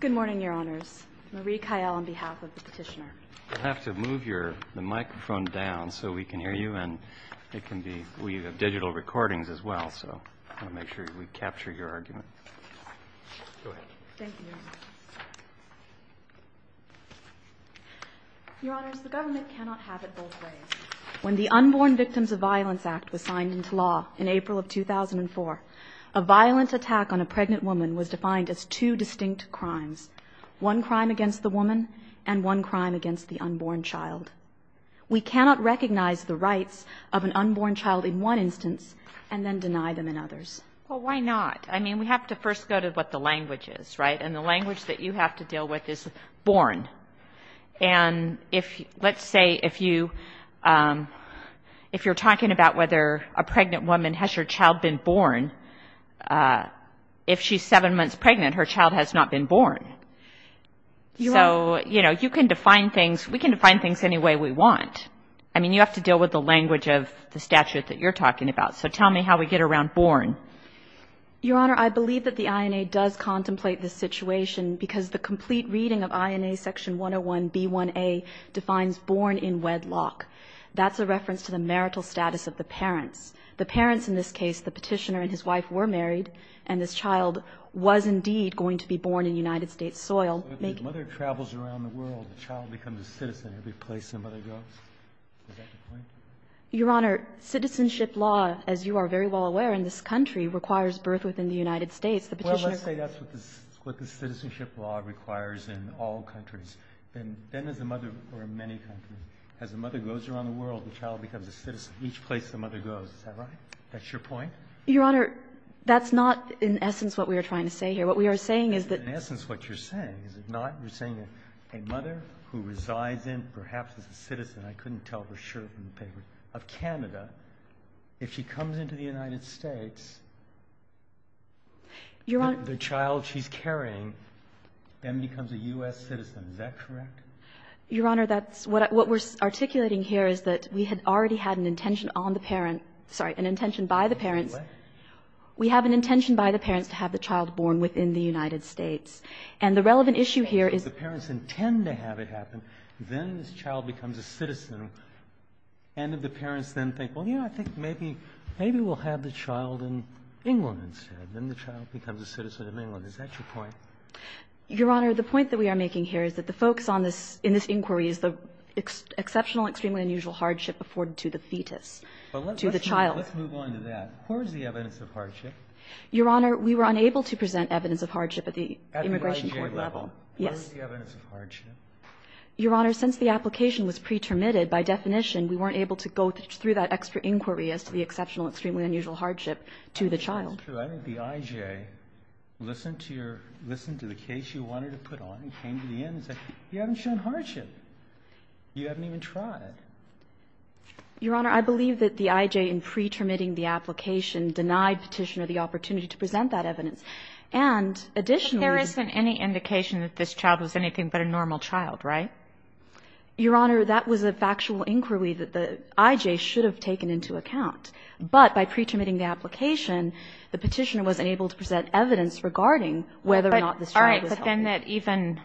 Good morning, Your Honors. Marie Kyle on behalf of the petitioner. I'll have to move the microphone down so we can hear you. We have digital recordings as well, so I want to make sure we capture your argument. Go ahead. Thank you. Your Honors, the government cannot have it both ways. When the Unborn Victims of Violence Act was signed into law in April of 2004, a violent attack on a pregnant woman was defined as two distinct crimes, one crime against the woman and one crime against the unborn child. We cannot recognize the rights of an unborn child in one instance and then deny them in others. Well, why not? I mean, we have to first go to what the language is, right? And the language that you have to deal with is born. And let's say if you're talking about whether a pregnant woman has her child been born, if she's seven months pregnant, her child has not been born. So, you know, you can define things. We can define things any way we want. I mean, you have to deal with the language of the statute that you're talking about. So tell me how we get around born. Your Honor, I believe that the INA does contemplate this situation because the complete reading of INA section 101b1a defines born in wedlock. That's a reference to the marital status of the parents. The parents in this case, the Petitioner and his wife, were married, and this child was indeed going to be born in United States soil. If the mother travels around the world, the child becomes a citizen every place somebody goes. Is that the point? Your Honor, citizenship law, as you are very well aware in this country, requires birth within the United States. Well, let's say that's what the citizenship law requires in all countries. Then, as a mother, or in many countries, as a mother goes around the world, the child becomes a citizen each place the mother goes. Is that right? That's your point? Your Honor, that's not in essence what we are trying to say here. What we are saying is that the mother who resides in, perhaps as a citizen, I couldn't tell for sure from the papers, of Canada, if she comes into the United States, the child she's carrying then becomes a U.S. citizen. Is that correct? Your Honor, that's what we're articulating here is that we had already had an intention on the parent, sorry, an intention by the parents. We have an intention by the parents to have the child born within the United States. And the relevant issue here is the parents intend to have it happen, then this child becomes a citizen. And if the parents then think, well, you know, I think maybe we'll have the child in England instead. Then the child becomes a citizen of England. Is that your point? Your Honor, the point that we are making here is that the focus on this, in this inquiry, is the exceptional, extremely unusual hardship afforded to the fetus, to the child. But let's move on to that. Where is the evidence of hardship? Your Honor, we were unable to present evidence of hardship at the immigration court level. Yes. Where is the evidence of hardship? Your Honor, since the application was pre-termitted, by definition, we weren't able to go through that extra inquiry as to the exceptional, extremely unusual hardship to the child. I think the IJ listened to your, listened to the case you wanted to put on and came to the end and said, you haven't shown hardship. You haven't even tried. Your Honor, I believe that the IJ, in pre-termitting the application, denied Petitioner the opportunity to present that evidence. And additionally. But there isn't any indication that this child was anything but a normal child, right? Your Honor, that was a factual inquiry that the IJ should have taken into account. But by pre-termitting the application, the Petitioner wasn't able to present evidence regarding whether or not this child was healthy. All right. But then that even,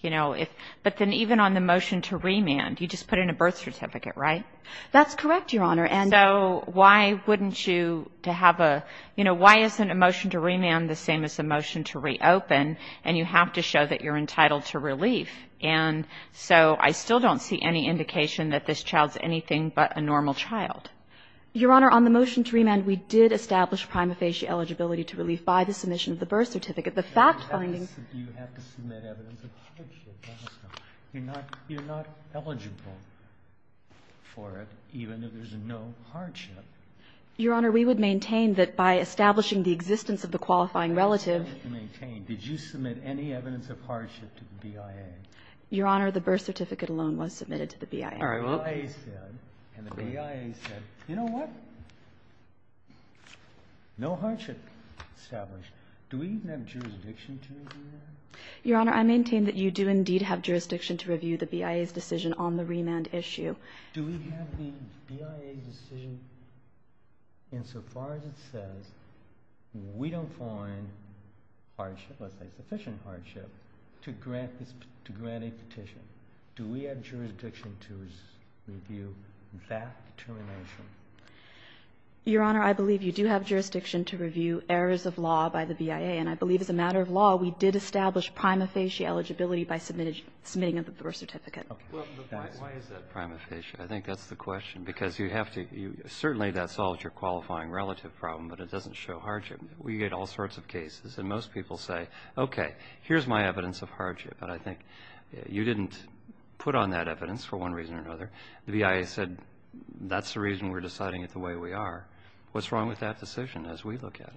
you know, if, but then even on the motion to remand, you just put in a birth certificate, right? That's correct, Your Honor. And. So why wouldn't you have a, you know, why isn't a motion to remand the same as a motion to reopen, and you have to show that you're entitled to relief? And so I still don't see any indication that this child's anything but a normal child. Your Honor, on the motion to remand, we did establish prima facie eligibility to relief by the submission of the birth certificate. The fact finding. You have to submit evidence of hardship. You're not eligible for it, even if there's no hardship. Your Honor, we would maintain that by establishing the existence of the qualifying relative. Did you submit any evidence of hardship to the BIA? Your Honor, the birth certificate alone was submitted to the BIA. All right. Well. And the BIA said, you know what, no hardship established. Do we even have jurisdiction to review that? Your Honor, I maintain that you do indeed have jurisdiction to review the BIA's decision on the remand issue. Do we have the BIA's decision insofar as it says we don't find hardship, let's say sufficient hardship, to grant a petition? Do we have jurisdiction to review that determination? Your Honor, I believe you do have jurisdiction to review errors of law by the BIA. And I believe as a matter of law, we did establish prima facie eligibility by submitting a birth certificate. Why is that prima facie? I think that's the question. Because you have to – certainly that solves your qualifying relative problem, but it doesn't show hardship. We get all sorts of cases, and most people say, okay, here's my evidence of hardship. But I think you didn't put on that evidence for one reason or another. The BIA said that's the reason we're deciding it the way we are. What's wrong with that decision as we look at it?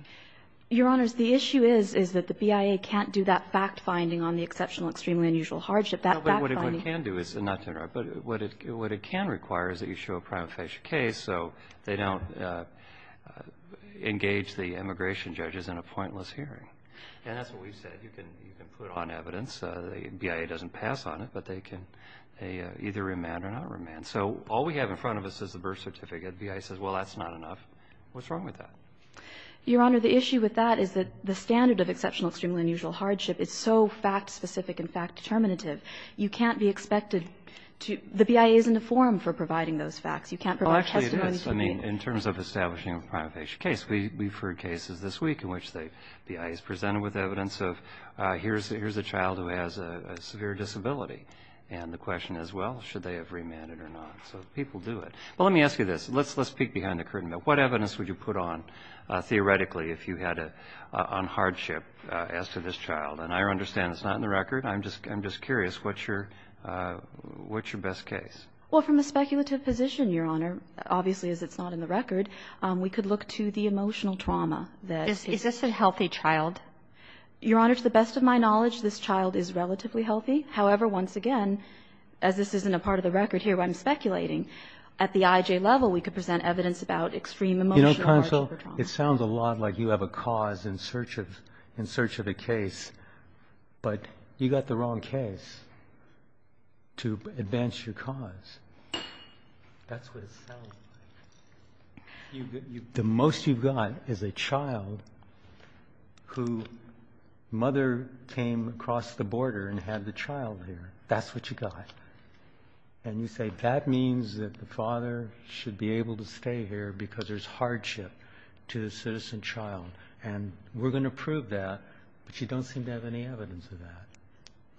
Your Honors, the issue is, is that the BIA can't do that fact-finding on the exceptional extremely unusual hardship. That fact-finding – No, but what it can do is – and not to interrupt – but what it can require is that you show a prima facie case so they don't engage the immigration judges in a pointless hearing. And that's what we've said. You can put on evidence. The BIA doesn't pass on it, but they can either remand or not remand. So all we have in front of us is the birth certificate. The BIA says, well, that's not enough. What's wrong with that? Your Honor, the issue with that is that the standard of exceptional extremely unusual hardship is so fact-specific and fact-determinative. You can't be expected to – the BIA isn't a forum for providing those facts. You can't provide testimony to people. Well, actually, it is. I mean, in terms of establishing a prima facie case, we've heard cases this week in which the BIA is presented with evidence of here's a child who has a severe disability. And the question is, well, should they have remanded or not? So people do it. But let me ask you this. Let's peek behind the curtain. What evidence would you put on, theoretically, if you had a – on hardship as to this child? And I understand it's not in the record. I'm just – I'm just curious. What's your – what's your best case? Well, from a speculative position, Your Honor, obviously, as it's not in the record, we could look to the emotional trauma that – Is this a healthy child? Your Honor, to the best of my knowledge, this child is relatively healthy. However, once again, as this isn't a part of the record here where I'm speculating, at the IJ level, we could present evidence about extreme emotional hardship or trauma. You know, counsel, it sounds a lot like you have a cause in search of – in search of a case. But you got the wrong case to advance your cause. That's what it sounds like. The most you've got is a child who mother came across the border and had the child there. That's what you got. And you say that means that the father should be able to stay here because there's hardship to the citizen child. And we're going to prove that, but you don't seem to have any evidence of that.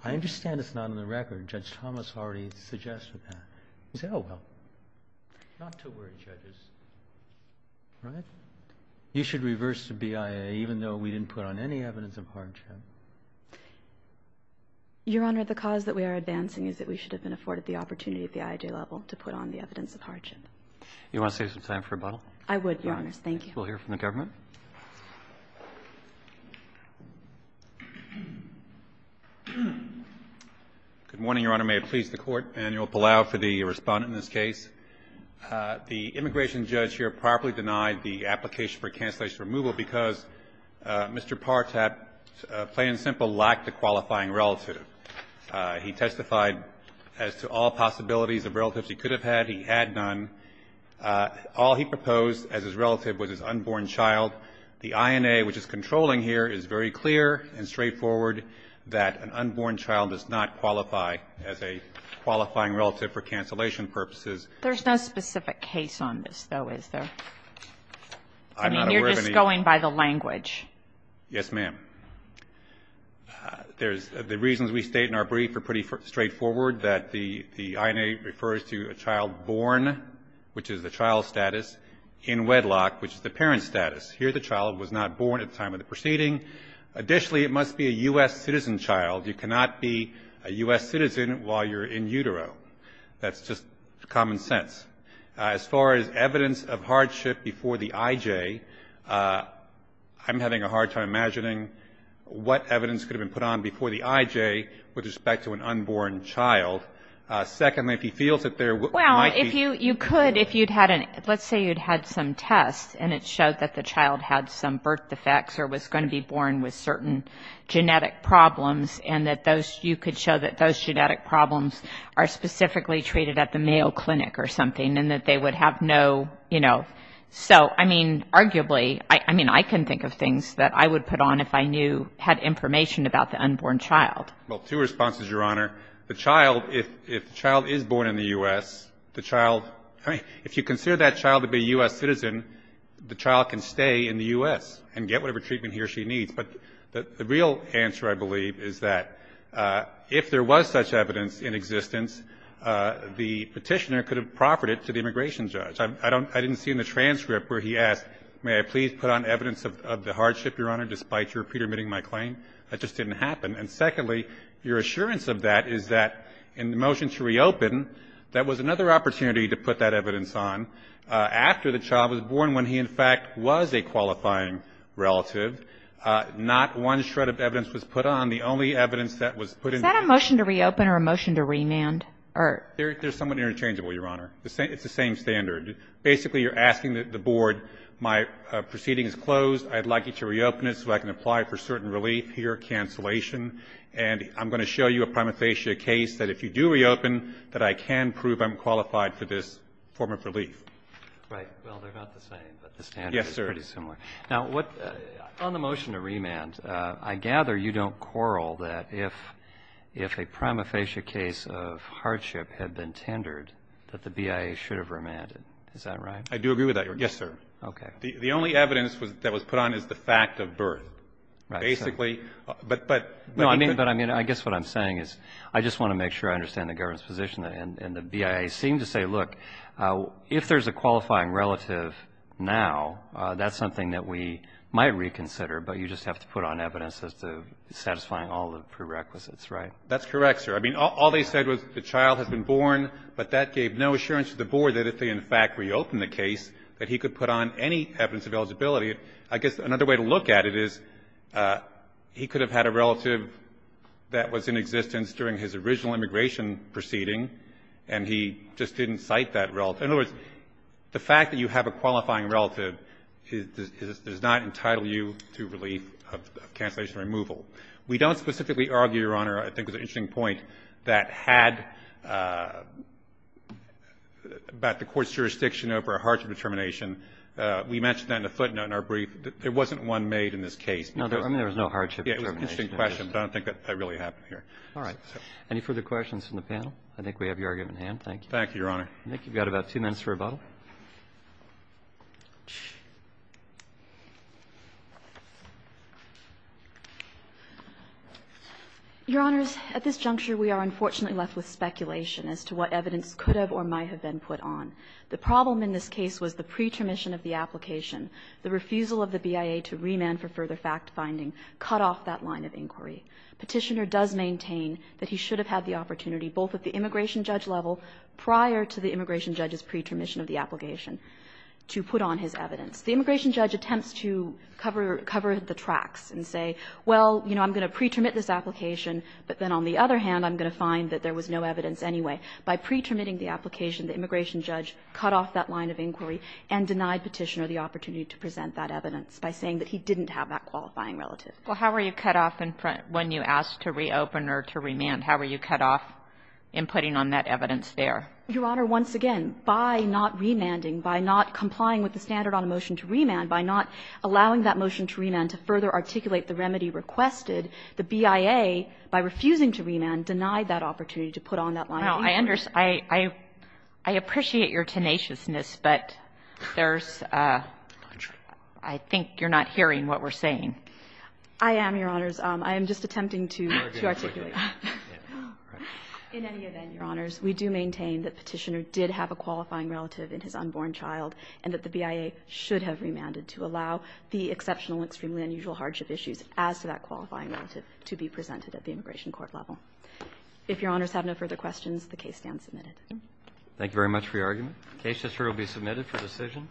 I understand it's not in the record. Judge Thomas already suggested that. You say, oh, well, not to worry, judges. Right? You should reverse the BIA, even though we didn't put on any evidence of hardship. Your Honor, the cause that we are advancing is that we should have been afforded the opportunity at the IJ level to put on the evidence of hardship. You want to save some time for rebuttal? I would, Your Honors. Thank you. We'll hear from the government. Good morning, Your Honor. May it please the Court. Manuel Palau for the respondent in this case. The immigration judge here properly denied the application for cancellation removal because Mr. Partap, plain and simple, lacked a qualifying relative. He testified as to all possibilities of relatives he could have had. He had none. All he proposed as his relative was his unborn child. The INA, which is controlling here, is very clear and straightforward that an unborn child does not qualify as a qualifying relative for cancellation purposes. There's no specific case on this, though, is there? I'm not aware of any. I mean, you're just going by the language. Yes, ma'am. The reasons we state in our brief are pretty straightforward, that the INA refers to a child born, which is the child's status, in wedlock, which is the parent's status. Here the child was not born at the time of the proceeding. Additionally, it must be a U.S. citizen child. You cannot be a U.S. citizen while you're in utero. That's just common sense. As far as evidence of hardship before the IJ, I'm having a hard time imagining what evidence could have been put on before the IJ with respect to an unborn child. Secondly, if he feels that there might be --. Well, if you could, if you'd had an -- let's say you'd had some tests, and it showed that the child had some birth defects or was going to be born with certain genetic problems, and that those, you could show that those genetic problems are specifically treated at the male clinic or something, and that they would have no, you know. So, I mean, arguably, I mean, I can think of things that I would put on if I knew, had information about the unborn child. Well, two responses, Your Honor. The child, if the child is born in the U.S., the child, I mean, if you consider that child to be a U.S. citizen, the child can stay in the U.S. and get whatever treatment he or she needs. But the real answer, I believe, is that if there was such evidence in existence, the Petitioner could have proffered it to the immigration judge. I don't ‑‑ I didn't see in the transcript where he asked, may I please put on evidence of the hardship, Your Honor, despite your petermitting my claim. That just didn't happen. And secondly, your assurance of that is that in the motion to reopen, that was another opportunity to put that evidence on after the child was born, when he, in fact, was a qualifying relative. Not one shred of evidence was put on. The only evidence that was put in ‑‑ Is that a motion to reopen or a motion to remand? There's somewhat interchangeable, Your Honor. It's the same standard. Basically, you're asking the board, my proceeding is closed. I'd like you to reopen it so I can apply for certain relief. Here, cancellation. And I'm going to show you a prima facie case that if you do reopen, that I can prove I'm qualified for this form of relief. Right. Well, they're not the same, but the standard is pretty similar. Yes, sir. Now, on the motion to remand, I gather you don't quarrel that if a prima facie case of hardship had been tendered, that the BIA should have remanded. Is that right? I do agree with that, Your Honor. Yes, sir. Okay. The only evidence that was put on is the fact of birth. Right, sir. Basically, but ‑‑ No, I mean, I guess what I'm saying is I just want to make sure I understand the relative now. That's something that we might reconsider, but you just have to put on evidence as to satisfying all the prerequisites, right? That's correct, sir. I mean, all they said was the child has been born, but that gave no assurance to the board that if they, in fact, reopened the case, that he could put on any evidence of eligibility. I guess another way to look at it is he could have had a relative that was in existence during his original immigration proceeding, and he just didn't cite that relative. So in other words, the fact that you have a qualifying relative does not entitle you to relief of cancellation or removal. We don't specifically argue, Your Honor, I think it was an interesting point, that had ‑‑ about the court's jurisdiction over a hardship determination. We mentioned that in a footnote in our brief. There wasn't one made in this case. No, I mean, there was no hardship determination. Yeah, it was an interesting question, but I don't think that really happened here. All right. Any further questions from the panel? I think we have your argument in hand. Thank you. Thank you, Your Honor. I think you've got about two minutes for rebuttal. Your Honors, at this juncture, we are unfortunately left with speculation as to what evidence could have or might have been put on. The problem in this case was the pretermission of the application. The refusal of the BIA to remand for further factfinding cut off that line of inquiry. Petitioner does maintain that he should have had the opportunity, both at the immigration judge level, prior to the immigration judge's pretermission of the application to put on his evidence. The immigration judge attempts to cover the tracks and say, well, you know, I'm going to pretermit this application, but then on the other hand, I'm going to find that there was no evidence anyway. By pretermitting the application, the immigration judge cut off that line of inquiry and denied Petitioner the opportunity to present that evidence by saying that he didn't have that qualifying relative. Well, how were you cut off when you asked to reopen or to remand? How were you cut off in putting on that evidence there? Your Honor, once again, by not remanding, by not complying with the standard on a motion to remand, by not allowing that motion to remand to further articulate the remedy requested, the BIA, by refusing to remand, denied that opportunity to put on that line of inquiry. Well, I understand. I appreciate your tenaciousness, but there's – I think you're not hearing what we're saying. I am, Your Honors. I am just attempting to articulate. In any event, Your Honors, we do maintain that Petitioner did have a qualifying relative in his unborn child and that the BIA should have remanded to allow the exceptional, extremely unusual hardship issues as to that qualifying relative to be presented at the immigration court level. If Your Honors have no further questions, the case stands submitted. Thank you very much for your argument. The case is here to be submitted for decision.